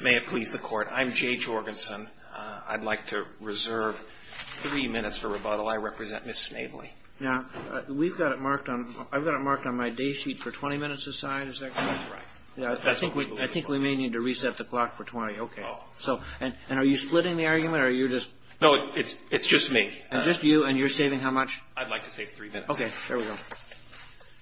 May it please the Court. I'm Jay Jorgensen. I'd like to reserve three minutes for rebuttal. I represent Ms. Snavely. Now, we've got it marked on – I've got it marked on my day sheet for 20 minutes aside, is that correct? That's right. I think we may need to reset the clock for 20. Okay. Oh. So – and are you splitting the argument or are you just – No, it's just me. It's just you and you're saving how much? I'd like to save three minutes. Okay. There we go.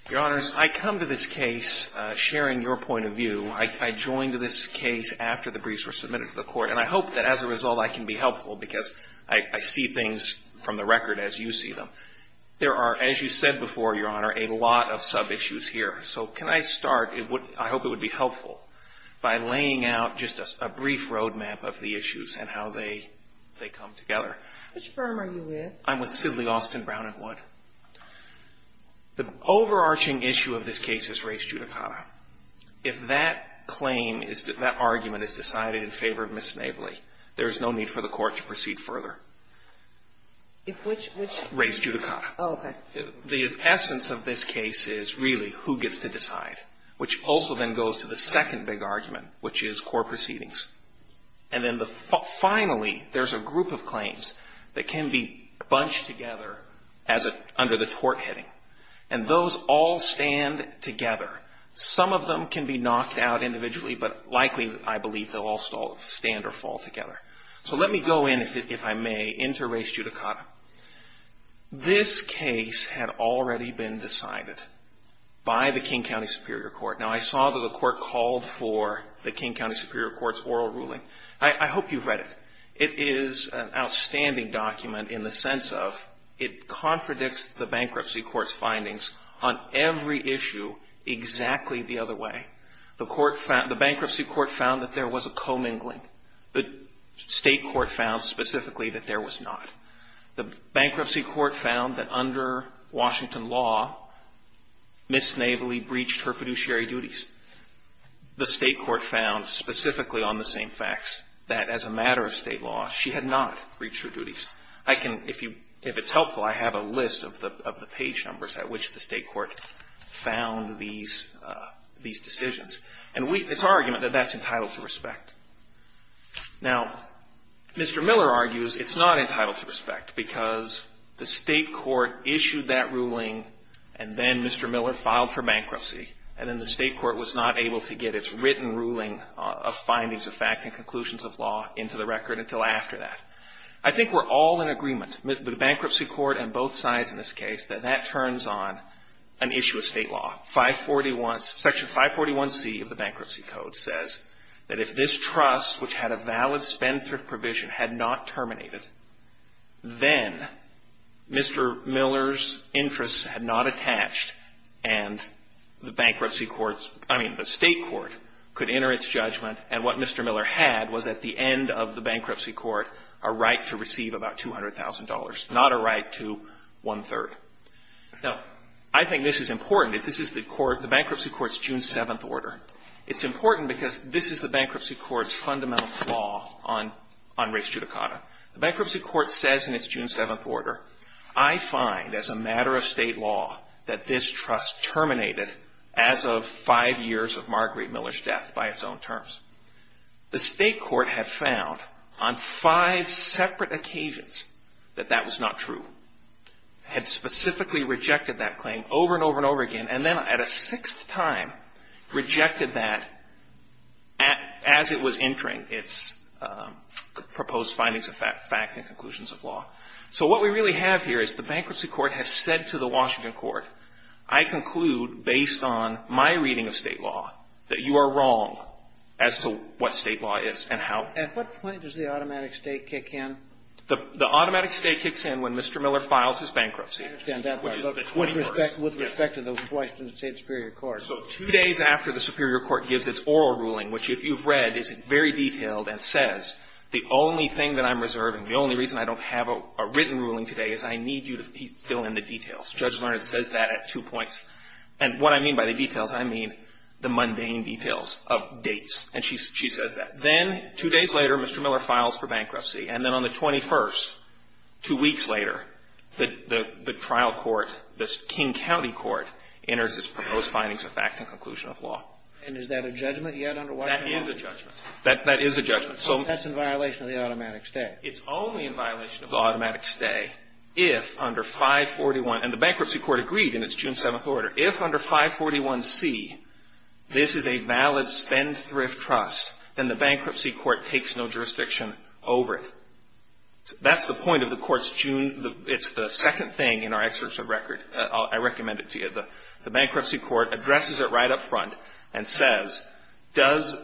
Your Honors, I come to this case sharing your point of view. I joined this case after the briefs were submitted to the Court and I hope that as a result I can be helpful because I see things from the record as you see them. There are, as you said before, Your Honor, a lot of sub-issues here. So can I start – I hope it would be helpful by laying out just a brief roadmap of the issues and how they come together. Which firm are you with? I'm with Sidley, Austin, Brown and Wood. The overarching issue of this case is race judicata. If that claim is – that argument is decided in favor of Ms. Navely, there is no need for the Court to proceed further. Which – which – Race judicata. Oh, okay. The essence of this case is really who gets to decide, which also then goes to the second big argument, which is core proceedings. And then the – finally, there's a group of claims that can be bunched together as a – under the tort heading. And those all stand together. Some of them can be knocked out individually, but likely, I believe, they'll all stand or fall together. So let me go in, if I may, into race judicata. This case had already been decided by the King County Superior Court. Now, I saw that the Court called for the King County Superior Court's oral ruling. I hope you've read it. It is an outstanding document in the sense of it contradicts the Bankruptcy Court's findings on every issue exactly the other way. The Bankruptcy Court found that there was a commingling. The State Court found specifically that there was not. The Bankruptcy Court found that under Washington law, Ms. Navely breached her fiduciary duties. The State Court found specifically on the same facts that as a matter of State law, she had not breached her duties. I can – if you – if it's helpful, I have a list of the page numbers at which the State Court found these decisions. And we – it's our argument that that's entitled to respect. Now, Mr. Miller argues it's not entitled to respect because the State Court issued that ruling and then Mr. Miller filed for bankruptcy. And then the State Court was not able to get its written ruling of findings of fact and conclusions of law into the record until after that. I think we're all in agreement, the Bankruptcy Court and both sides in this case, that that turns on an issue of State law. Section 541C of the Bankruptcy Code says that if this trust, which had a valid Spendthrift provision, had not terminated, then Mr. Miller's interests had not attached and the Bankruptcy Court's – I mean, the State Court could enter its judgment. And what Mr. Miller had was at the end of the Bankruptcy Court a right to receive about $200,000, not a right to one-third. Now, I think this is important. This is the Bankruptcy Court's June 7th order. It's important because this is the Bankruptcy Court's fundamental flaw on race judicata. The Bankruptcy Court says in its June 7th order, I find as a matter of State law that this trust terminated as of five years of Marguerite Miller's death by its own terms. The State Court had found on five separate occasions that that was not true, had specifically rejected that claim over and over and over again, and then at a sixth time rejected that as it was entering its proposed findings of fact and conclusions of law. So what we really have here is the Bankruptcy Court has said to the Washington Court, I conclude based on my reading of State law that you are wrong as to what State law is and how – At what point does the automatic State kick in? The automatic State kicks in when Mr. Miller files his bankruptcy. I understand that. With respect to the Washington State superior court. So two days after the superior court gives its oral ruling, which if you've read is very detailed and says the only thing that I'm reserving, the only reason I don't have a written ruling today is I need you to fill in the details. Judge Leonard says that at two points. And what I mean by the details, I mean the mundane details of dates. And she says that. Then two days later, Mr. Miller files for bankruptcy. And then on the 21st, two weeks later, the trial court, the King County Court, enters its proposed findings of fact and conclusion of law. And is that a judgment yet under Washington law? That is a judgment. That is a judgment. So that's in violation of the automatic State. It's only in violation of the automatic State if under 541 – and the bankruptcy court agreed in its June 7th order. If under 541C, this is a valid spendthrift trust, then the bankruptcy court takes no jurisdiction over it. That's the point of the court's June – it's the second thing in our excerpt of record. I recommend it to you. The bankruptcy court addresses it right up front and says, does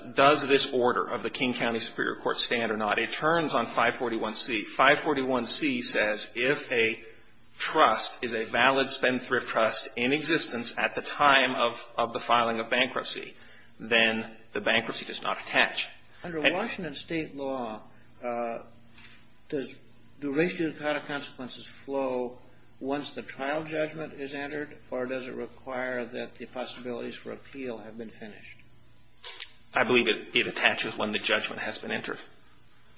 this order of the King County Superior Court stand or not? But it turns on 541C. 541C says if a trust is a valid spendthrift trust in existence at the time of the filing of bankruptcy, then the bankruptcy does not attach. Under Washington State law, does duration of trial consequences flow once the trial judgment is entered, or does it require that the possibilities for appeal have been finished? I believe it attaches when the judgment has been entered.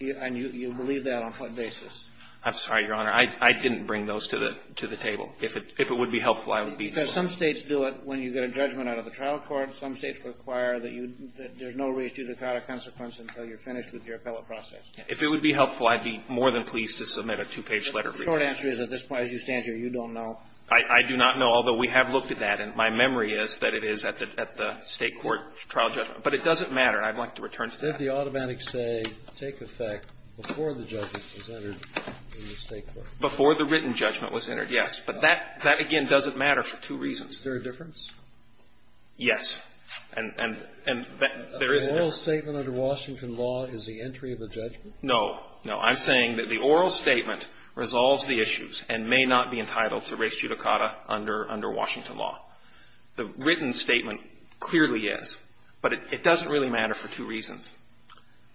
And you believe that on what basis? I'm sorry, Your Honor. I didn't bring those to the table. If it would be helpful, I would be more than happy. Because some States do it when you get a judgment out of the trial court. Some States require that you – that there's no reason to require a consequence until you're finished with your appellate process. If it would be helpful, I'd be more than pleased to submit a two-page letter for you. The short answer is at this point, as you stand here, you don't know. I do not know, although we have looked at that. And my memory is that it is at the State court trial judgment. But it doesn't matter. I'd like to return to that. Did the automatic say take effect before the judgment was entered in the State court? Before the written judgment was entered, yes. But that, again, doesn't matter for two reasons. Is there a difference? Yes. And there is a difference. An oral statement under Washington law is the entry of a judgment? No. I'm saying that the oral statement resolves the issues and may not be entitled to res judicata under Washington law. The written statement clearly is. But it doesn't really matter for two reasons.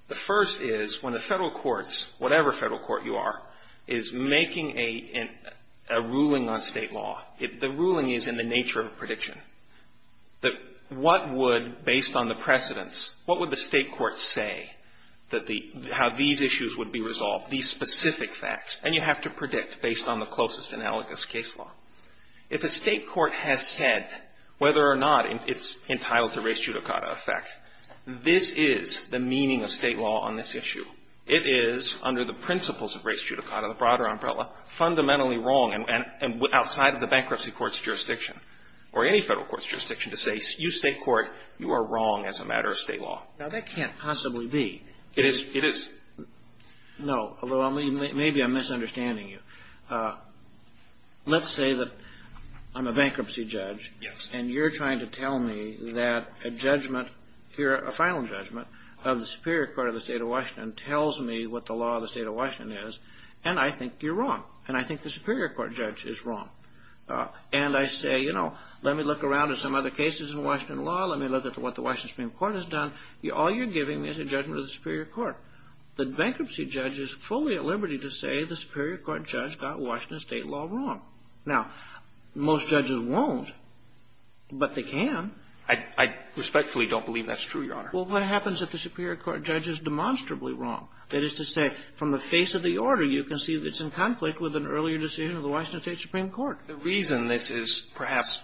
The first is when the Federal courts, whatever Federal court you are, is making a ruling on State law, the ruling is in the nature of a prediction. What would, based on the precedents, what would the State courts say that the – how these issues would be resolved, these specific facts? And you have to predict based on the closest analogous case law. If a State court has said whether or not it's entitled to res judicata effect, this is the meaning of State law on this issue. It is, under the principles of res judicata, the broader umbrella, fundamentally wrong outside of the bankruptcy court's jurisdiction or any Federal court's jurisdiction to say, you State court, you are wrong as a matter of State law. Now, that can't possibly be. It is. No. Maybe I'm misunderstanding you. Let's say that I'm a bankruptcy judge. Yes. And you're trying to tell me that a judgment here, a final judgment, of the Superior Court of the State of Washington tells me what the law of the State of Washington is, and I think you're wrong. And I think the Superior Court judge is wrong. And I say, you know, let me look around at some other cases in Washington law. Let me look at what the Washington Supreme Court has done. All you're giving is a judgment of the Superior Court. The bankruptcy judge is fully at liberty to say the Superior Court judge got Washington State law wrong. Now, most judges won't, but they can. I respectfully don't believe that's true, Your Honor. Well, what happens if the Superior Court judge is demonstrably wrong? That is to say, from the face of the order, you can see that it's in conflict with an earlier decision of the Washington State Supreme Court. The reason this is perhaps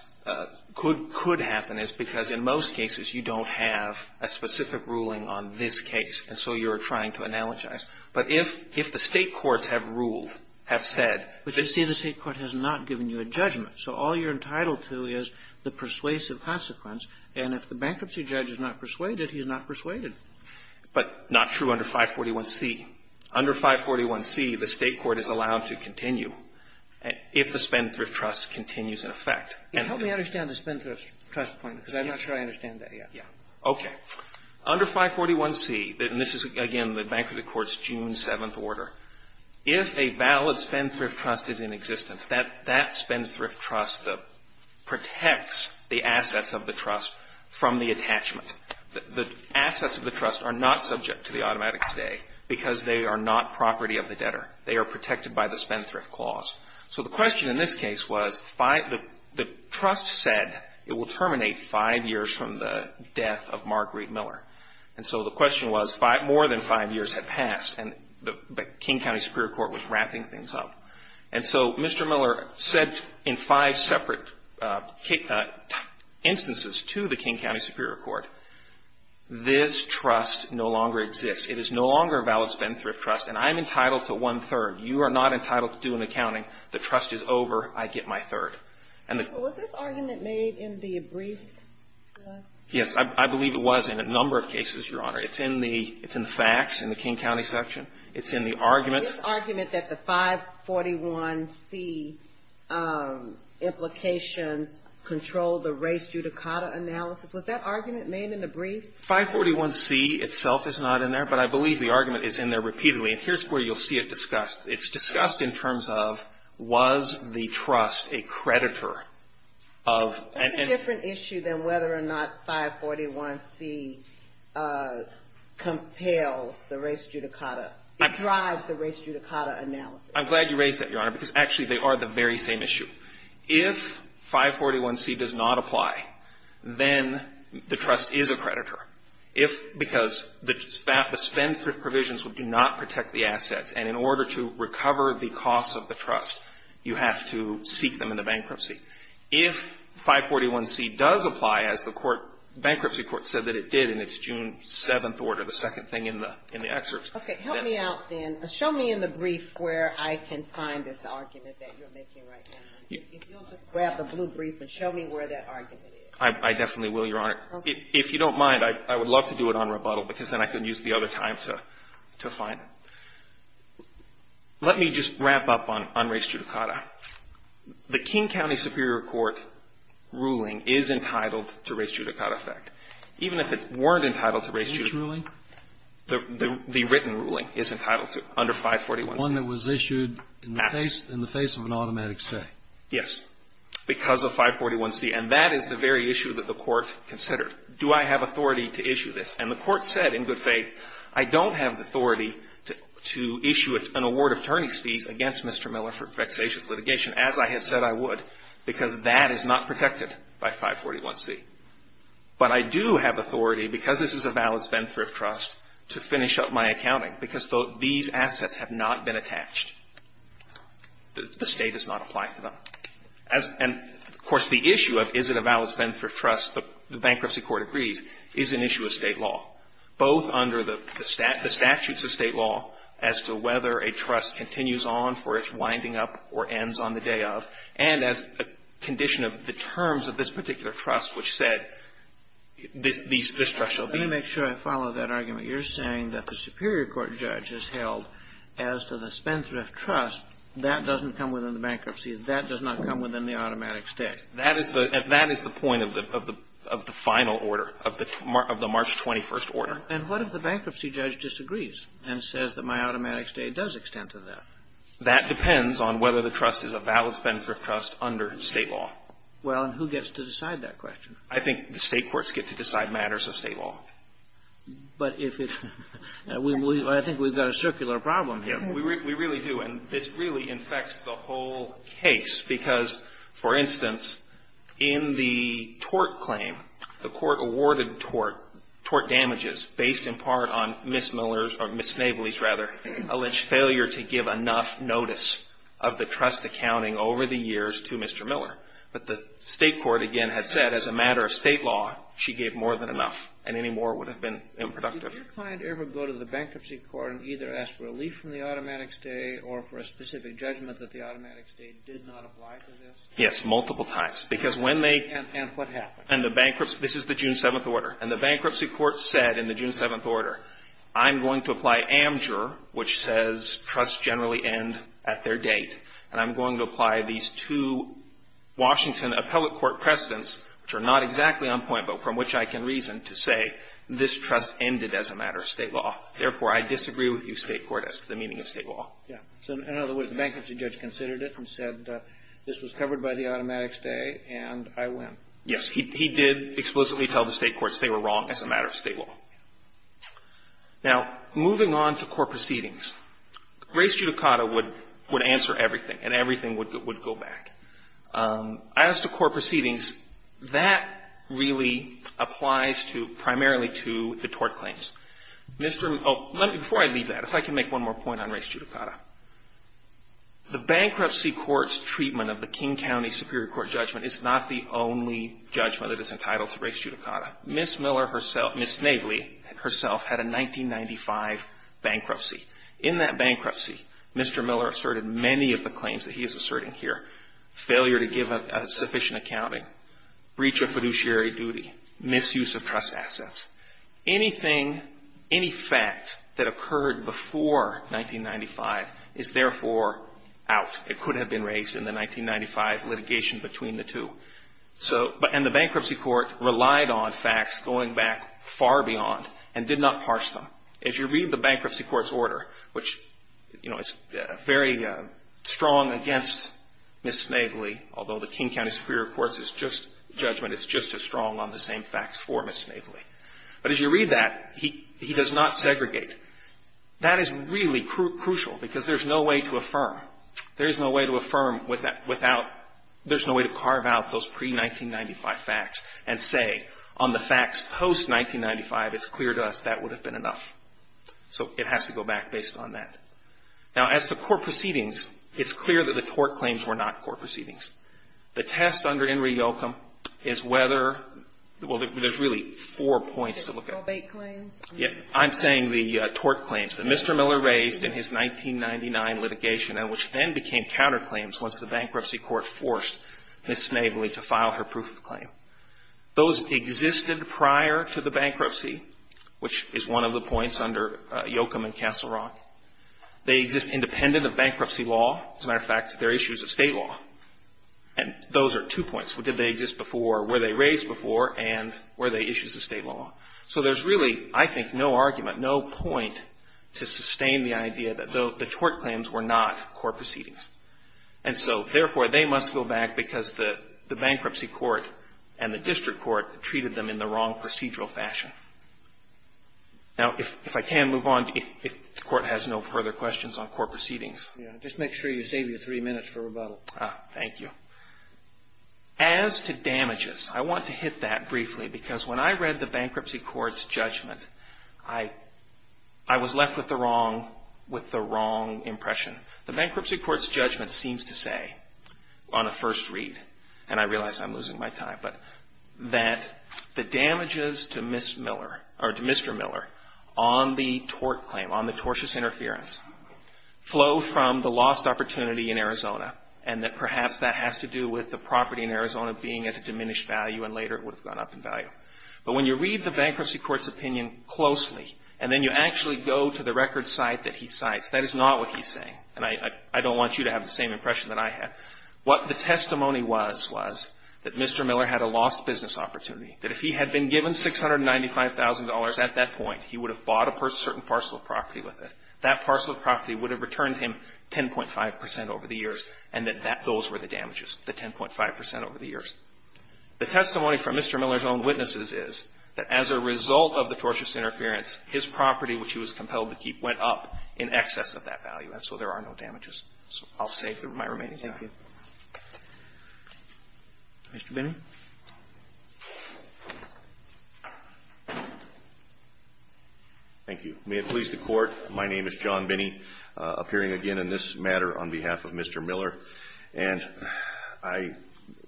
could happen is because in most cases you don't have a specific ruling on this case. And so you're trying to analogize. But if the State courts have ruled, have said that the State court has not given you a judgment, so all you're entitled to is the persuasive consequence, and if the bankruptcy judge is not persuaded, he is not persuaded. But not true under 541C. Under 541C, the State court is allowed to continue if the spendthrift trust continues in effect. Help me understand the spendthrift trust point, because I'm not sure I understand that yet. Okay. Under 541C, and this is, again, the Bankruptcy Court's June 7th order, if a valid spendthrift trust is in existence, that spendthrift trust protects the assets of the trust from the attachment. The assets of the trust are not subject to the automatic stay because they are not property of the debtor. They are protected by the spendthrift clause. So the question in this case was the trust said it will terminate five years from the death of Marguerite Miller. And so the question was more than five years had passed, and the King County Superior Court was wrapping things up. And so Mr. Miller said in five separate instances to the King County Superior Court, this trust no longer exists. It is no longer a valid spendthrift trust, and I am entitled to one-third. You are not entitled to do an accounting. The trust is over. I get my third. And the ---- So was this argument made in the brief? Yes. I believe it was in a number of cases, Your Honor. It's in the facts in the King County section. It's in the argument. This argument that the 541C implications control the race judicata analysis, was that argument made in the brief? 541C itself is not in there, but I believe the argument is in there repeatedly. And here's where you'll see it discussed. It's discussed in terms of was the trust a creditor of ---- That's a different issue than whether or not 541C compels the race judicata. It drives the race judicata analysis. I'm glad you raised that, Your Honor, because actually they are the very same issue. If 541C does not apply, then the trust is a creditor. Because the spend provisions do not protect the assets. And in order to recover the costs of the trust, you have to seek them in the bankruptcy. If 541C does apply, as the court, bankruptcy court said that it did in its June 7th order, the second thing in the excerpt. Okay. Help me out then. Show me in the brief where I can find this argument that you're making right now. If you'll just grab the blue brief and show me where that argument is. I definitely will, Your Honor. Okay. If you don't mind, I would love to do it on rebuttal because then I can use the other time to find it. Let me just wrap up on race judicata. The King County Superior Court ruling is entitled to race judicata effect. Even if it weren't entitled to race judicata. Which ruling? The written ruling is entitled to under 541C. One that was issued in the face of an automatic stay. Yes. Because of 541C. And that is the very issue that the court considered. Do I have authority to issue this? And the court said in good faith, I don't have the authority to issue an award of attorney's fees against Mr. Miller for vexatious litigation, as I had said I would. Because that is not protected by 541C. But I do have authority, because this is a valid spendthrift trust, to finish up my accounting. Because these assets have not been attached. The State does not apply to them. And, of course, the issue of is it a valid spendthrift trust, the bankruptcy court agrees, is an issue of State law. Both under the statutes of State law as to whether a trust continues on for its winding up or ends on the day of, and as a condition of the terms of this particular trust which said this trust shall be. Let me make sure I follow that argument. You're saying that the Superior Court judge has held as to the spendthrift trust, that doesn't come within the bankruptcy. That does not come within the automatic stay. That is the point of the final order, of the March 21st order. And what if the bankruptcy judge disagrees and says that my automatic stay does extend to that? That depends on whether the trust is a valid spendthrift trust under State law. Well, and who gets to decide that question? I think the State courts get to decide matters of State law. But if it's – I think we've got a circular problem here. We really do. And this really infects the whole case, because, for instance, in the tort claim, the Court awarded tort damages based in part on Ms. Miller's – or Ms. Nabley's, rather, alleged failure to give enough notice of the trust accounting over the years to Mr. Miller. But the State court, again, had said as a matter of State law, she gave more than enough, and any more would have been unproductive. Did your client ever go to the bankruptcy court and either ask relief from the automatic stay or for a specific judgment that the automatic stay did not apply to this? Yes, multiple times. Because when they – And what happened? And the bankruptcy – this is the June 7th order. And the bankruptcy court said in the June 7th order, I'm going to apply amdure, which says trusts generally end at their date, and I'm going to apply these two Washington appellate court precedents, which are not exactly on point, but from which I can reason, to say this trust ended as a matter of State law. Therefore, I disagree with you, State court, as to the meaning of State law. Yeah. So in other words, the bankruptcy judge considered it and said this was covered by the automatic stay, and I win. Yes. He did explicitly tell the State courts they were wrong as a matter of State law. Now, moving on to court proceedings. Grace Giudicata would answer everything, and everything would go back. As to court proceedings, that really applies to – primarily to the tort claims. Before I leave that, if I can make one more point on Grace Giudicata. The bankruptcy court's treatment of the King County Superior Court judgment is not the only judgment that is entitled to Grace Giudicata. Ms. Miller herself – Ms. Nagley herself had a 1995 bankruptcy. In that bankruptcy, Mr. Miller asserted many of the claims that he is asserting here – failure to give sufficient accounting, breach of fiduciary duty, misuse of trust assets. Anything – any fact that occurred before 1995 is therefore out. It could have been raised in the 1995 litigation between the two. So – and the bankruptcy court relied on facts going back far beyond and did not parse them. As you read the bankruptcy court's order, which, you know, is very strong against Ms. Nagley, although the King County Superior Court's judgment is just as strong on the same facts for Ms. Nagley. But as you read that, he does not segregate. That is really crucial because there's no way to affirm. There is no way to affirm without – there's no way to carve out those pre-1995 facts and say, on the facts post-1995, it's clear to us that would have been enough. So it has to go back based on that. Now, as to court proceedings, it's clear that the tort claims were not court proceedings. The test under In re Yocum is whether – well, there's really four points to look at. I'm saying the tort claims that Mr. Miller raised in his 1999 litigation and which then became counterclaims once the bankruptcy court forced Ms. Nagley to file her proof of claim. Those existed prior to the bankruptcy, which is one of the points under Yocum and Castle Rock. They exist independent of bankruptcy law. As a matter of fact, they're issues of state law. And those are two points. Did they exist before? Were they raised before? And were they issues of state law? So there's really, I think, no argument, no point to sustain the idea that the tort claims were not court proceedings. And so, therefore, they must go back because the bankruptcy court and the district court treated them in the wrong procedural fashion. Now, if I can move on, if the Court has no further questions on court proceedings. Just make sure you save your three minutes for rebuttal. Thank you. As to damages, I want to hit that briefly because when I read the bankruptcy court's judgment, I was left with the wrong impression. The bankruptcy court's judgment seems to say on a first read, and I realize I'm losing my time, but that the damages to Ms. Miller, or to Mr. Miller, on the tort claim, on the tortious interference, flow from the lost opportunity in Arizona, and that perhaps that has to do with the property in Arizona being at a diminished value and later it would have gone up in value. But when you read the bankruptcy court's opinion closely, and then you actually go to the record site that he cites, that is not what he's saying. And I don't want you to have the same impression that I had. What the testimony was, was that Mr. Miller had a lost business opportunity, that if he had been given $695,000 at that point, he would have bought a certain parcel of property with it. That parcel of property would have returned him 10.5 percent over the years, and that those were the damages, the 10.5 percent over the years. The testimony from Mr. Miller's own witnesses is that as a result of the tortious interference, his property, which he was compelled to keep, went up in excess of that value, and so there are no damages. So I'll say for my remaining time. Roberts. Thank you. Mr. Binney. Thank you. May it please the Court, my name is John Binney, appearing again in this matter on behalf of Mr. Miller. And I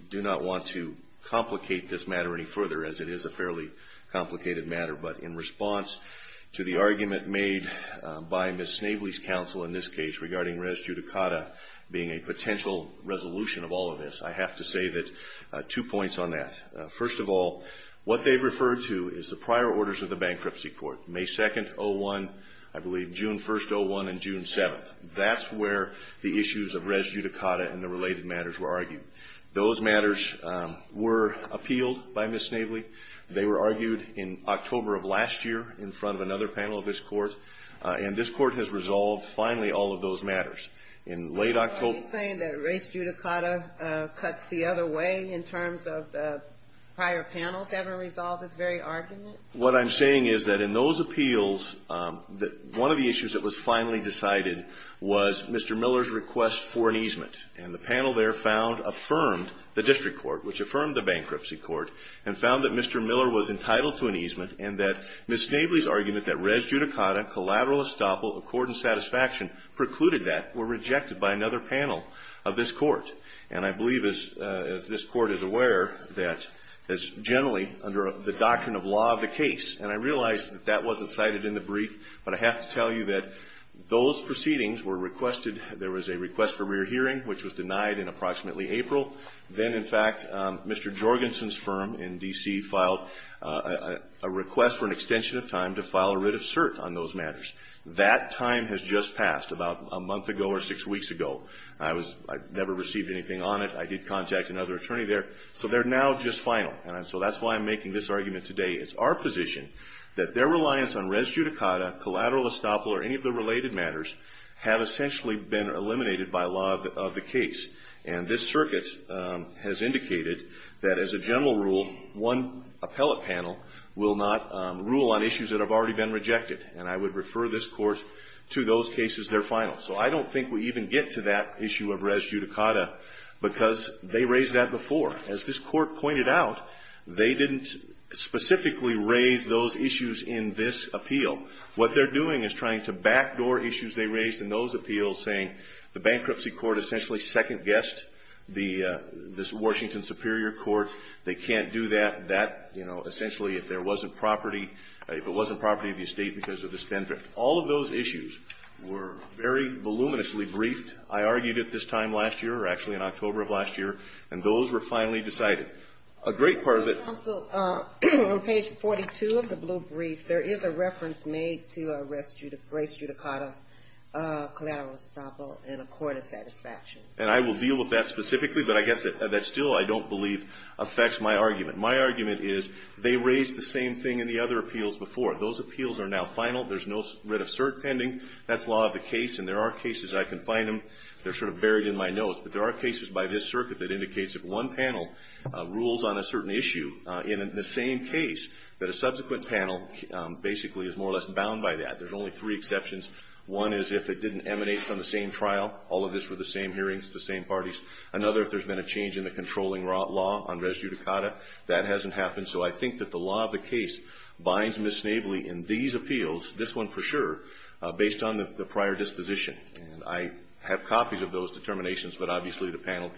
do not want to complicate this matter any further, as it is a fairly complicated matter, but in response to the argument made by Ms. Snavely's counsel in this case regarding res judicata being a potential resolution of all of this, I have to say that two points on that. First of all, what they've referred to is the prior orders of the bankruptcy court, May 2nd, 01, I believe June 1st, 01, and June 7th. That's where the issues of res judicata and the related matters were argued. Those matters were appealed by Ms. Snavely. They were argued in October of last year in front of another panel of this Court, and this Court has resolved finally all of those matters. In late October ---- Are you saying that res judicata cuts the other way in terms of prior panels ever resolve this very argument? What I'm saying is that in those appeals, one of the issues that was finally decided was Mr. Miller's request for an easement. And the panel there found, affirmed the district court, which affirmed the bankruptcy court, and found that Mr. Miller was entitled to an easement and that Ms. Snavely's argument that res judicata, collateral estoppel, accord and satisfaction precluded that were rejected by another panel of this Court. And I believe, as this Court is aware, that is generally under the doctrine of law of the case. And I realize that that wasn't cited in the brief, but I have to tell you that those proceedings were requested. There was a request for rear hearing, which was denied in approximately April. Then, in fact, Mr. Jorgensen's firm in D.C. filed a request for an extension of time to file a writ of cert on those matters. That time has just passed about a month ago or six weeks ago. I was ---- I never received anything on it. I did contact another attorney there. So they're now just final. And so that's why I'm making this argument today. It's our position that their reliance on res judicata, collateral estoppel or any of the related matters have essentially been eliminated by law of the case. And this circuit has indicated that, as a general rule, one appellate panel will not rule on issues that have already been rejected. And I would refer this Court to those cases. They're final. So I don't think we even get to that issue of res judicata because they raised that before. As this Court pointed out, they didn't specifically raise those issues in this appeal. What they're doing is trying to backdoor issues they raised in those appeals, saying the bankruptcy court essentially second-guessed the Washington Superior Court. They can't do that. That, you know, essentially if there wasn't property, if it wasn't property of the estate because of the spendthrift. All of those issues were very voluminously briefed. I argued it this time last year or actually in October of last year. And those were finally decided. A great part of it ---- On page 42 of the blue brief, there is a reference made to a res judicata collateral estoppel in a court of satisfaction. And I will deal with that specifically. But I guess that still I don't believe affects my argument. My argument is they raised the same thing in the other appeals before. Those appeals are now final. There's no writ of cert pending. That's law of the case. And there are cases I can find them. They're sort of buried in my notes. But there are cases by this circuit that indicates if one panel rules on a certain issue in the same case, that a subsequent panel basically is more or less bound by that. There's only three exceptions. One is if it didn't emanate from the same trial. All of this were the same hearings, the same parties. Another, if there's been a change in the controlling law on res judicata. That hasn't happened. So I think that the law of the case binds Ms. Snavely in these appeals, this one for sure, based on the prior disposition. And I have copies of those determinations, but obviously the panel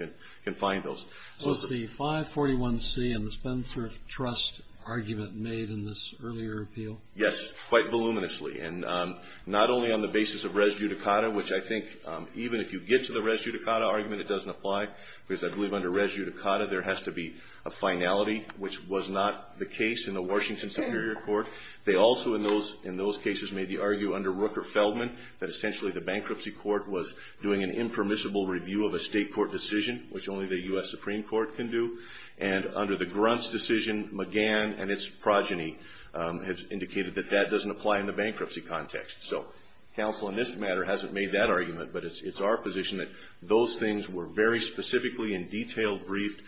can find those. Was the 541C and the Spencer Trust argument made in this earlier appeal? Yes, quite voluminously. And not only on the basis of res judicata, which I think even if you get to the res judicata argument, it doesn't apply. Because I believe under res judicata, there has to be a finality, which was not the case in the Washington Superior Court. They also, in those cases, made the argue under Rooker-Feldman that essentially the bankruptcy court was doing an impermissible review of a state court decision, which only the U.S. Supreme Court can do. And under the Gruntz decision, McGann and its progeny have indicated that that doesn't apply in the bankruptcy context. So counsel in this matter hasn't made that argument, but it's our position that those things were very specifically and detailed, briefed.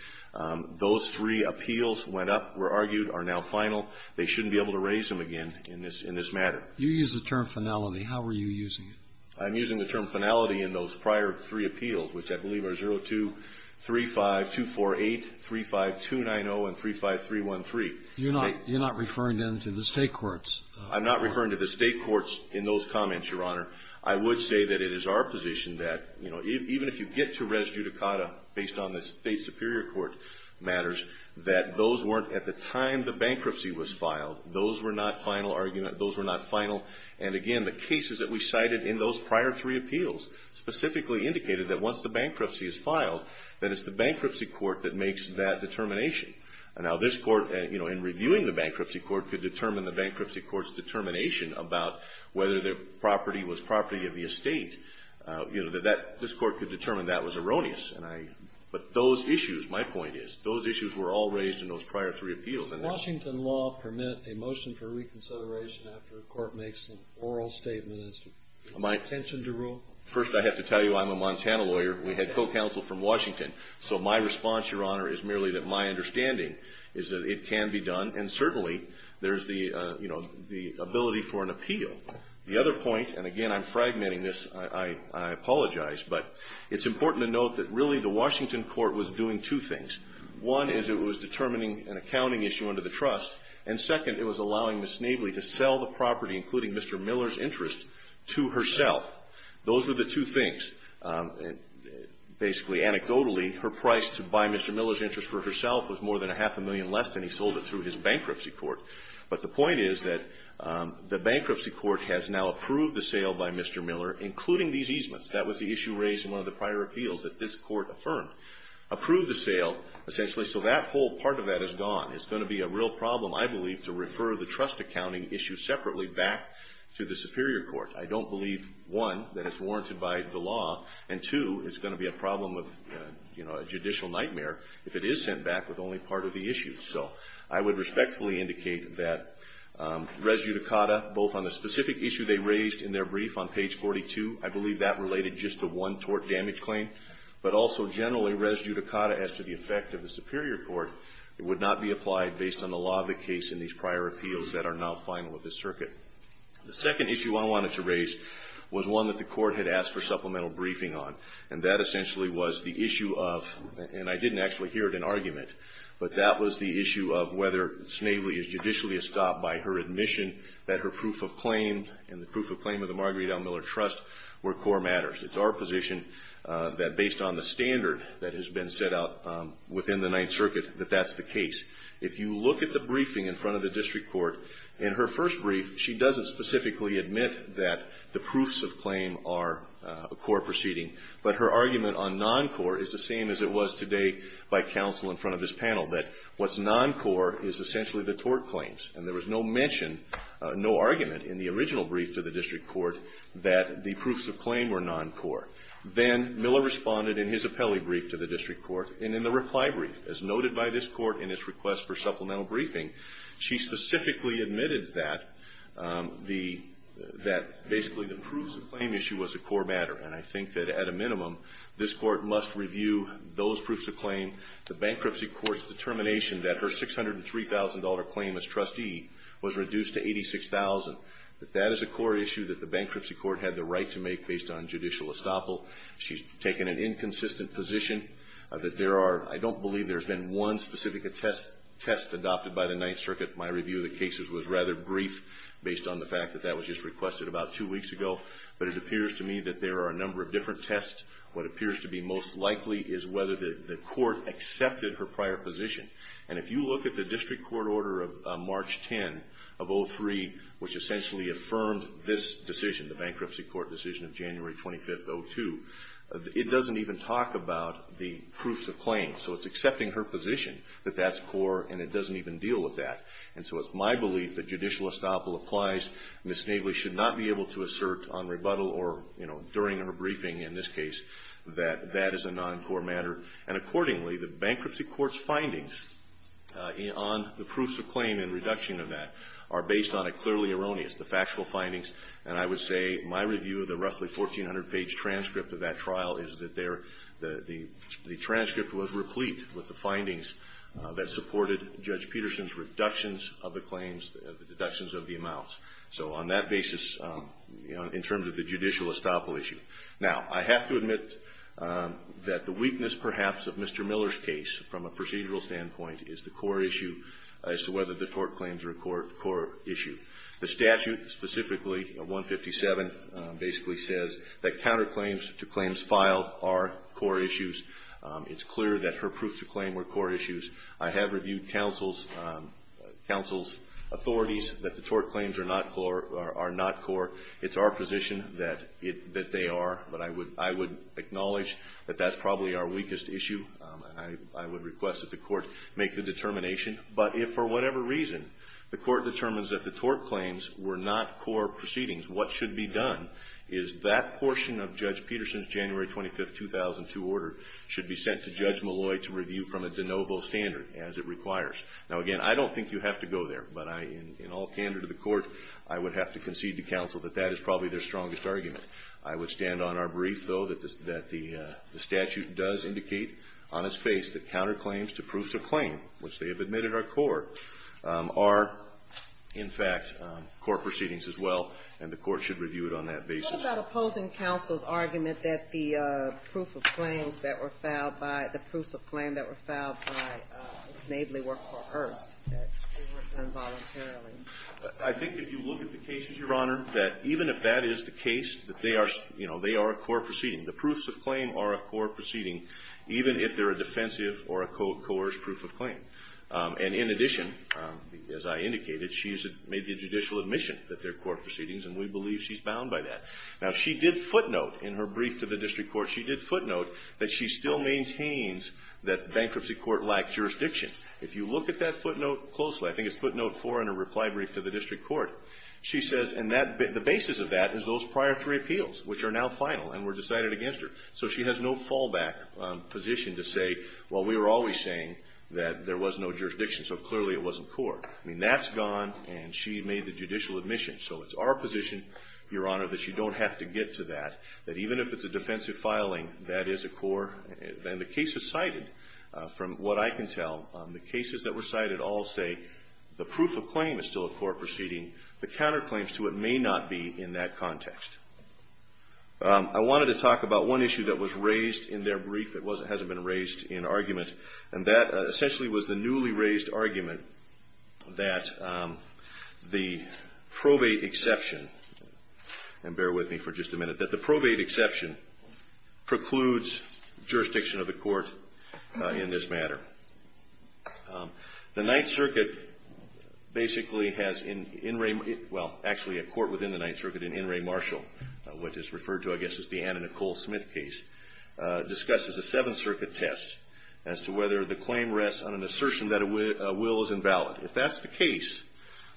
Those three appeals went up, were argued, are now final. They shouldn't be able to raise them again in this matter. You use the term finality. How are you using it? I'm using the term finality in those prior three appeals, which I believe are 0235, 248, 35290, and 35313. You're not referring them to the state courts? I'm not referring to the state courts in those comments, Your Honor. I would say that it is our position that, you know, even if you get to res judicata based on the State Superior Court matters, that those weren't at the time the bankruptcy was filed, those were not final arguments, those were not final. And, again, the cases that we cited in those prior three appeals specifically indicated that once the bankruptcy is filed, that it's the bankruptcy court that makes that determination. Now, this Court, you know, in reviewing the bankruptcy court, could determine the bankruptcy court's determination about whether the property was property of the estate. You know, this Court could determine that was erroneous. But those issues, my point is, those issues were all raised in those prior three appeals. Does Washington law permit a motion for reconsideration after a court makes an oral statement as to its intention to rule? First, I have to tell you I'm a Montana lawyer. We had co-counsel from Washington. So my response, Your Honor, is merely that my understanding is that it can be done, and certainly there's the, you know, the ability for an appeal. The other point, and, again, I'm fragmenting this. I apologize. But it's important to note that, really, the Washington court was doing two things. One is it was determining an accounting issue under the trust. And, second, it was allowing Ms. Snavely to sell the property, including Mr. Miller's interest, to herself. Those were the two things. Basically, anecdotally, her price to buy Mr. Miller's interest for herself was more than a half a million less than he sold it through his bankruptcy court. But the point is that the bankruptcy court has now approved the sale by Mr. Miller, including these easements. That was the issue raised in one of the prior appeals that this Court affirmed. Approved the sale, essentially, so that whole part of that is gone. It's going to be a real problem, I believe, to refer the trust accounting issue separately back to the superior court. I don't believe, one, that it's warranted by the law, and, two, it's going to be a problem of, you know, a judicial nightmare if it is sent back with only part of the issue. So I would respectfully indicate that res judicata, both on the specific issue they raised in their brief on page 42, I believe that related just to one tort damage claim, but also generally res judicata as to the effect of the superior court, it would not be applied based on the law of the case in these prior appeals that are now final of this circuit. The second issue I wanted to raise was one that the Court had asked for supplemental briefing on. And that essentially was the issue of, and I didn't actually hear it in argument, but that was the issue of whether Snavely is judicially estopped by her admission that her proof of claim and the proof of claim of the Marguerite L. Miller Trust were core matters. It's our position that, based on the standard that has been set out within the Ninth Circuit, that that's the case. If you look at the briefing in front of the district court, in her first brief, she doesn't specifically admit that the proofs of claim are a core proceeding, but her argument on noncore is the same as it was today by counsel in front of this panel, that what's noncore is essentially the tort claims. And there was no mention, no argument, in the original brief to the district court that the proofs of claim were noncore. Then Miller responded in his appellee brief to the district court, and in the reply brief, as noted by this Court in its request for supplemental briefing, she specifically admitted that the, that basically the proofs of claim issue was a core matter. And I think that, at a minimum, this Court must review those proofs of claim, the bankruptcy court's determination that her $603,000 claim as trustee was reduced to the bankruptcy court had the right to make based on judicial estoppel. She's taken an inconsistent position that there are, I don't believe there's been one specific attest, test adopted by the Ninth Circuit. My review of the cases was rather brief based on the fact that that was just requested about two weeks ago. But it appears to me that there are a number of different tests. What appears to be most likely is whether the, the court accepted her prior position. And if you look at the district court order of March 10 of 03, which essentially affirmed this decision, the bankruptcy court decision of January 25th, 02, it doesn't even talk about the proofs of claim. So it's accepting her position that that's core, and it doesn't even deal with that. And so it's my belief that judicial estoppel applies. Ms. Snavely should not be able to assert on rebuttal or, you know, during her briefing in this case, that that is a noncore matter. And accordingly, the bankruptcy court's findings on the proofs of claim and reduction of that are based on a clearly erroneous, the factual findings. And I would say my review of the roughly 1,400-page transcript of that trial is that there, the, the transcript was replete with the findings that supported Judge Peterson's reductions of the claims, the deductions of the amounts. So on that basis, you know, in terms of the judicial estoppel issue. Now, I have to admit that the weakness, perhaps, of Mr. Miller's case from a procedural standpoint is the core issue as to whether the tort claims are a core, core issue. The statute, specifically, 157, basically says that counterclaims to claims filed are core issues. It's clear that her proofs of claim were core issues. I have reviewed counsel's, counsel's authorities that the tort claims are not core, are not core. It's our position that it, that they are. But I would, I would acknowledge that that's probably our weakest issue. And I, I would request that the Court make the determination. But if, for whatever reason, the Court determines that the tort claims were not core proceedings, what should be done is that portion of Judge Peterson's January 25, 2002 order should be sent to Judge Malloy to review from a de novo standard, as it requires. Now, again, I don't think you have to go there. But I, in all candor to the Court, I would have to concede to counsel that that is probably their strongest argument. I would stand on our brief, though, that the, that the statute does indicate on its face that counterclaims to proofs of claim, which they have admitted are core, are, in fact, core proceedings as well. And the Court should review it on that basis. What about opposing counsel's argument that the proof of claims that were filed by, the proofs of claim that were filed by Snavely were coerced, that they were done voluntarily? I think if you look at the cases, Your Honor, that even if that is the case, that they are, you know, they are a core proceeding. The proofs of claim are a core proceeding, even if they're a defensive or a coerced proof of claim. And in addition, as I indicated, she's made the judicial admission that they're core proceedings, and we believe she's bound by that. Now, she did footnote in her brief to the district court, she did footnote that she still maintains that the bankruptcy court lacked jurisdiction. If you look at that footnote closely, I think it's footnote 4 in her reply brief to the district court. She says, and the basis of that is those prior three appeals, which are now final and were decided against her. So she has no fallback position to say, well, we were always saying that there was no jurisdiction, so clearly it wasn't core. I mean, that's gone, and she made the judicial admission. So it's our position, Your Honor, that you don't have to get to that, that even if it's a defensive filing, that is a core. And the cases cited, from what I can tell, the cases that were cited all say the proof of claim is still a core proceeding. The counterclaims to it may not be in that context. I wanted to talk about one issue that was raised in their brief that hasn't been raised in argument, and that essentially was the newly raised argument that the probate exception, and bear with me for just a minute, that the probate exception precludes jurisdiction of the court in this matter. The Ninth Circuit basically has in Ray, well, actually a court within the Ninth Circuit in Ray Marshall, which is referred to, I guess, as the Anna Nicole Smith case, discusses a Seventh Circuit test as to whether the claim rests on an assertion that a will is invalid. If that's the case,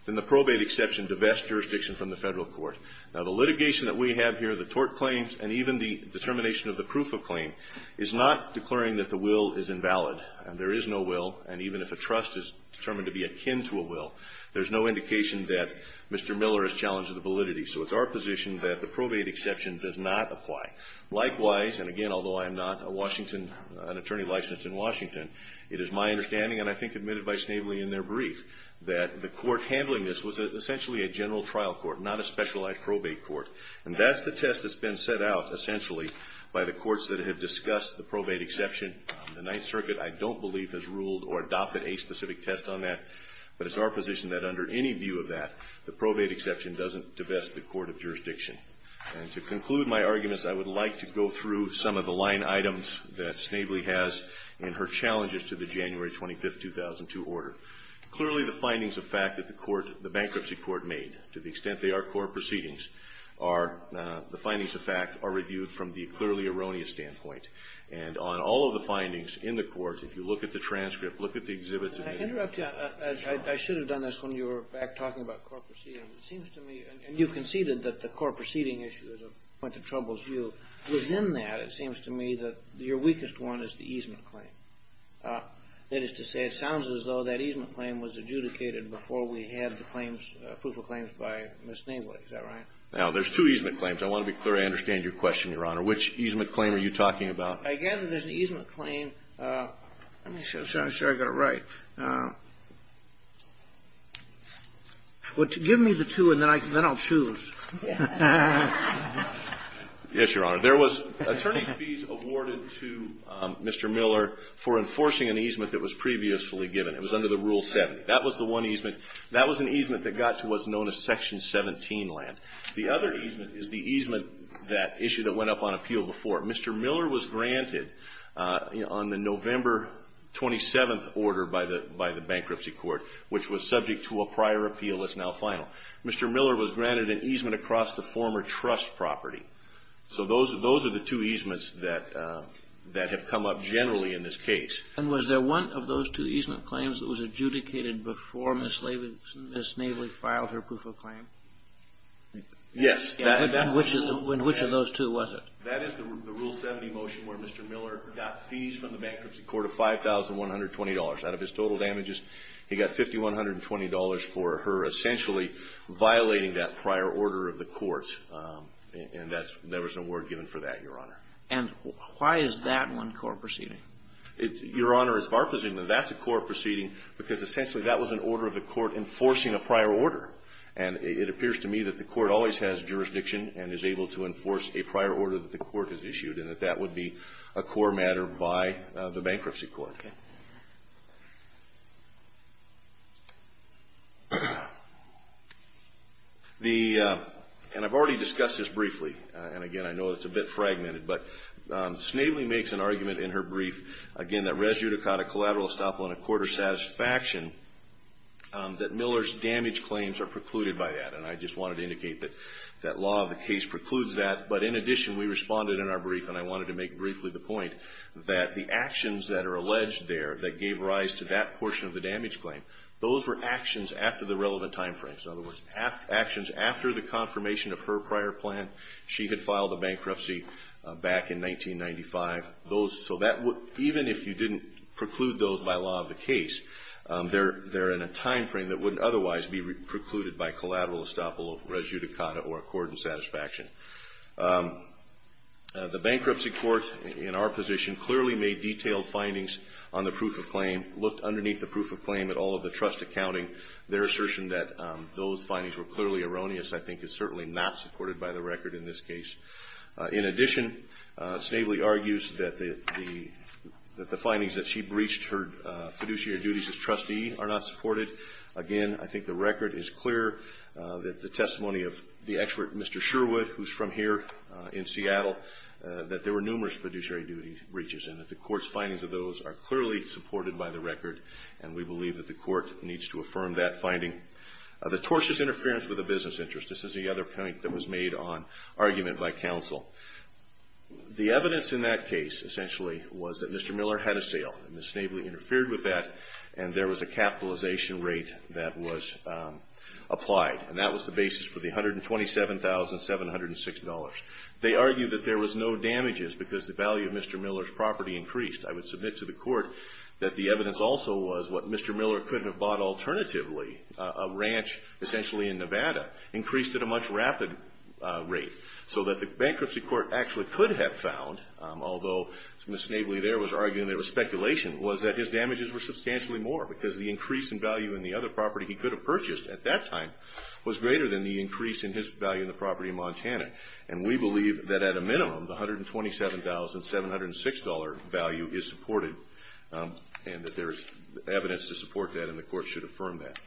then the probate exception divests jurisdiction from the Federal Court. Now, the litigation that we have here, the tort claims, and even the determination of the proof of claim is not declaring that the will is invalid. There is no will, and even if a trust is determined to be akin to a will, there's no indication that Mr. Miller has challenged the validity. So it's our position that the probate exception does not apply. Likewise, and again, although I'm not a Washington, an attorney licensed in Washington, it is my understanding, and I think admitted by Snavely in their brief, that the court handling this was essentially a general trial court, not a specialized probate court. And that's the test that's been set out, essentially, by the courts that have discussed the probate exception. The Ninth Circuit, I don't believe, has ruled or adopted a specific test on that, but it's our position that under any view of that, the probate exception doesn't divest the court of jurisdiction. And to conclude my arguments, I would like to go through some of the line items that Snavely has in her challenges to the January 25, 2002, order. Clearly, the findings of fact that the court, the bankruptcy court made, to the extent they are core proceedings, are the findings of fact are reviewed from the clearly erroneous standpoint. And on all of the findings in the court, if you look at the transcript, look at the exhibits in the end. Can I interrupt you? I should have done this when you were back talking about core proceedings. It seems to me, and you conceded that the core proceeding issue is a point of trouble to you. Within that, it seems to me that your weakest one is the easement claim. That is to say, it sounds as though that easement claim was adjudicated before we had the claims, proof of claims by Ms. Snavely. Is that right? Now, there's two easement claims. I want to be clear. I understand your question, Your Honor. Which easement claim are you talking about? Again, there's an easement claim. Let me see. I'm not sure I got it right. Give me the two, and then I'll choose. Yes, Your Honor. There was attorney fees awarded to Mr. Miller for enforcing an easement that was previously given. It was under the Rule 70. That was the one easement. That was an easement that got to what's known as Section 17 land. The other easement is the easement that issue that went up on appeal before. Mr. Miller was granted on the November 27th order by the bankruptcy court, which was subject to a prior appeal that's now final. Mr. Miller was granted an easement across the former trust property. So those are the two easements that have come up generally in this case. And was there one of those two easement claims that was adjudicated before Ms. Snavely filed her proof of claim? Yes. And which of those two was it? That is the Rule 70 motion where Mr. Miller got fees from the bankruptcy court of $5,120. Out of his total damages, he got $5,120 for her essentially violating that prior order of the court. And there was no word given for that, Your Honor. And why is that one court proceeding? Your Honor, it's our presumption that that's a court proceeding because essentially that was an order of the court enforcing a prior order. And it appears to me that the court always has jurisdiction and is able to enforce a prior order that the court has issued, and that that would be a core matter by the bankruptcy court. Okay. And I've already discussed this briefly. And, again, I know it's a bit fragmented. But Snavely makes an argument in her brief, again, that res judicata collateral satisfaction, that Miller's damage claims are precluded by that. And I just wanted to indicate that that law of the case precludes that. But, in addition, we responded in our brief, and I wanted to make briefly the point that the actions that are alleged there that gave rise to that portion of the damage claim, those were actions after the relevant time frames. In other words, actions after the confirmation of her prior plan. She had filed a bankruptcy back in 1995. So even if you didn't preclude those by law of the case, they're in a time frame that wouldn't otherwise be precluded by collateral estoppel res judicata or accordant satisfaction. The bankruptcy court, in our position, clearly made detailed findings on the proof of claim, looked underneath the proof of claim at all of the trust accounting. Their assertion that those findings were clearly erroneous, I think, is certainly not supported by the record in this case. In addition, Snavely argues that the findings that she breached her fiduciary duties as trustee are not supported. Again, I think the record is clear that the testimony of the expert, Mr. Sherwood, who's from here in Seattle, that there were numerous fiduciary duty breaches, and that the court's findings of those are clearly supported by the record, and we believe that the court needs to affirm that finding. The tortious interference with the business interest. This is the other point that was made on argument by counsel. The evidence in that case, essentially, was that Mr. Miller had a sale. Ms. Snavely interfered with that, and there was a capitalization rate that was applied, and that was the basis for the $127,706. They argued that there was no damages because the value of Mr. Miller's property increased. I would submit to the court that the evidence also was what Mr. Miller could have thought alternatively, a ranch essentially in Nevada, increased at a much rapid rate, so that the bankruptcy court actually could have found, although Ms. Snavely there was arguing there was speculation, was that his damages were substantially more because the increase in value in the other property he could have purchased at that time was greater than the increase in his value in the property in Montana, and we believe that at a minimum, the $127,706 value is supported, and that there is evidence to support that, and the court should affirm that.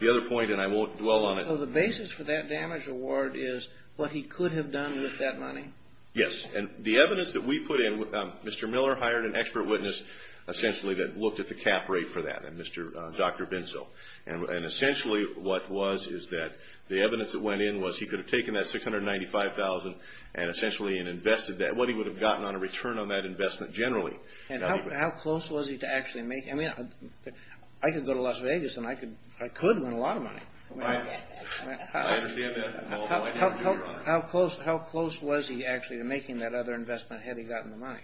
The other point, and I won't dwell on it. So the basis for that damage award is what he could have done with that money? Yes. And the evidence that we put in, Mr. Miller hired an expert witness, essentially, that looked at the cap rate for that, Dr. Binzel. And essentially what was is that the evidence that went in was he could have taken that $695,000 and essentially invested that, what he would have gotten on return on that investment generally. And how close was he to actually making it? I mean, I could go to Las Vegas and I could win a lot of money. I understand that. How close was he actually to making that other investment had he gotten the money?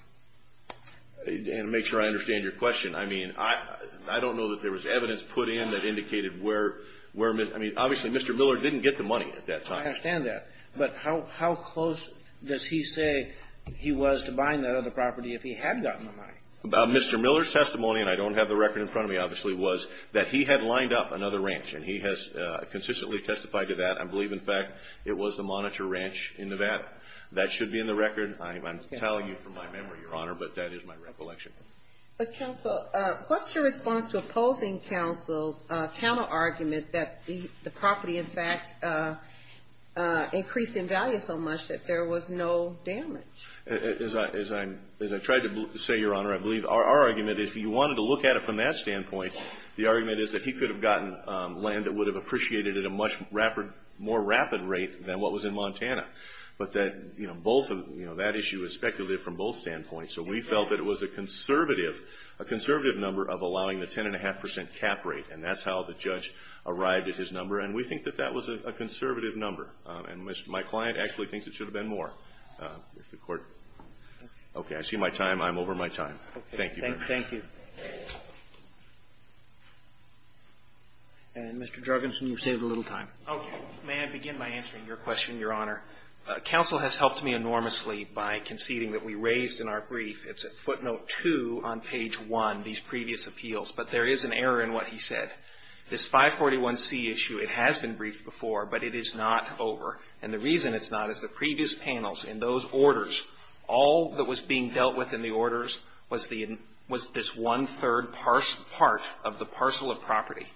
And to make sure I understand your question, I mean, I don't know that there was evidence put in that indicated where, I mean, obviously Mr. Miller didn't get the money at that time. I understand that. But how close does he say he was to buying that other property if he had gotten the money? Mr. Miller's testimony, and I don't have the record in front of me, obviously, was that he had lined up another ranch. And he has consistently testified to that. I believe, in fact, it was the Monitor Ranch in Nevada. That should be in the record. I'm telling you from my memory, Your Honor, but that is my recollection. But, counsel, what's your response to opposing counsel's counterargument that the property, in fact, increased in value so much that there was no damage? As I tried to say, Your Honor, I believe our argument, if you wanted to look at it from that standpoint, the argument is that he could have gotten land that would have appreciated at a much more rapid rate than what was in Montana. But that issue is speculated from both standpoints. So we felt that it was a conservative number of allowing the 10.5% cap rate. And that's how the judge arrived at his number. And we think that that was a conservative number. And my client actually thinks it should have been more. Okay. I see my time. I'm over my time. Thank you. Thank you. And, Mr. Jorgensen, you've saved a little time. Okay. May I begin by answering your question, Your Honor? Counsel has helped me enormously by conceding that we raised in our brief, it's at footnote 2 on page 1, these previous appeals. But there is an error in what he said. This 541C issue, it has been briefed before, but it is not over. And the reason it's not is the previous panels in those orders, all that was being dealt with in the orders was this one-third part of the parcel of property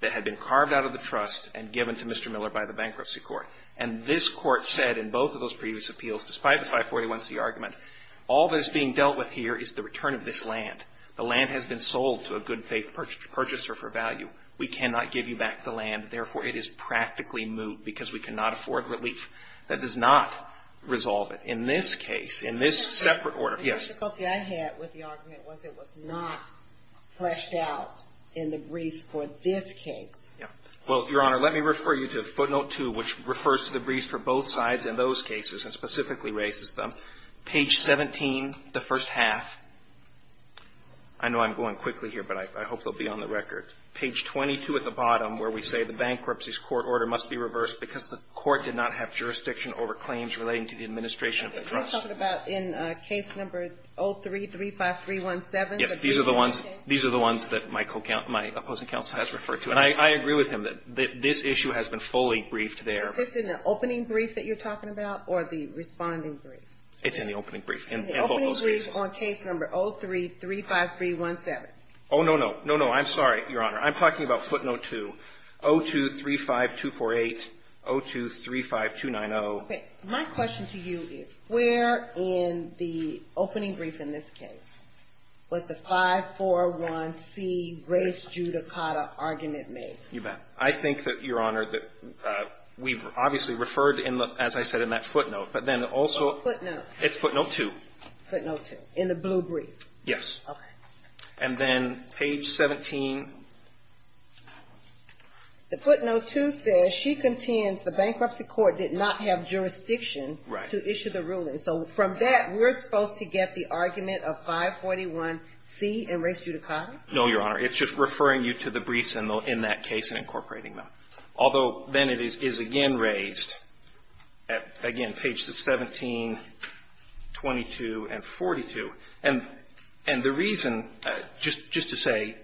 that had been carved out of the trust and given to Mr. Miller by the bankruptcy court. And this court said in both of those previous appeals, despite the 541C argument, all that is being dealt with here is the return of this land. The land has been sold to a good faith purchaser for value. We cannot give you back the land. Therefore, it is practically moot because we cannot afford relief. That does not resolve it. In this case, in this separate order, yes. The difficulty I had with the argument was it was not fleshed out in the briefs for this case. Yeah. Well, Your Honor, let me refer you to footnote 2, which refers to the briefs for both sides in those cases and specifically raises them. I know I'm going quickly here, but I hope they'll be on the record. Page 22 at the bottom where we say the bankruptcy's court order must be reversed because the court did not have jurisdiction over claims relating to the administration of the trust. Are you talking about in case number 0335317? Yes. These are the ones that my opposing counsel has referred to. And I agree with him that this issue has been fully briefed there. Is this in the opening brief that you're talking about or the responding brief? It's in the opening brief in both those cases. The opening brief on case number 0335317. Oh, no, no. No, no. I'm sorry, Your Honor. I'm talking about footnote 2, 0235248, 0235290. Okay. My question to you is where in the opening brief in this case was the 541C Grace Giudicata argument made? You bet. I think that, Your Honor, that we've obviously referred, as I said, in that footnote, but then also it's footnote 2. Footnote 2. In the blue brief. Yes. Okay. And then page 17. The footnote 2 says she contends the bankruptcy court did not have jurisdiction to issue the ruling. So from that, we're supposed to get the argument of 541C and Grace Giudicata? No, Your Honor. It's just referring you to the briefs in that case and incorporating them. Although then it is again raised, again, pages 17, 22, and 42. And the reason, just to say,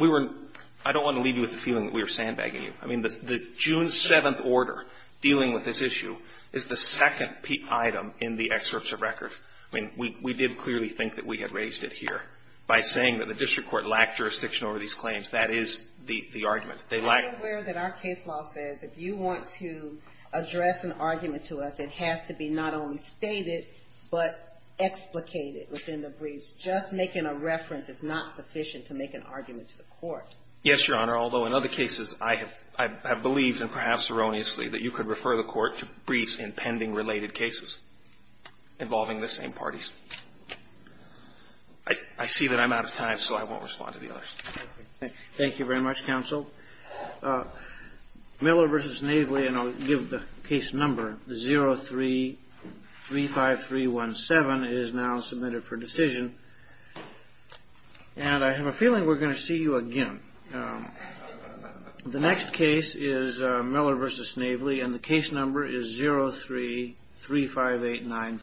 we were – I don't want to leave you with the feeling that we were sandbagging you. I mean, the June 7th order dealing with this issue is the second item in the excerpts of record. I mean, we did clearly think that we had raised it here by saying that the district court lacked jurisdiction over these claims. That is the argument. I'm aware that our case law says if you want to address an argument to us, it has to be not only stated, but explicated within the briefs. Just making a reference is not sufficient to make an argument to the court. Yes, Your Honor. Although in other cases, I have believed, and perhaps erroneously, that you could refer the court to briefs in pending related cases involving the same parties. I see that I'm out of time, so I won't respond to the others. Thank you very much, Counsel. Miller v. Snavely, and I'll give the case number. The 03-35317 is now submitted for decision. And I have a feeling we're going to see you again. The next case is Miller v. Snavely, and the case number is 03-35895.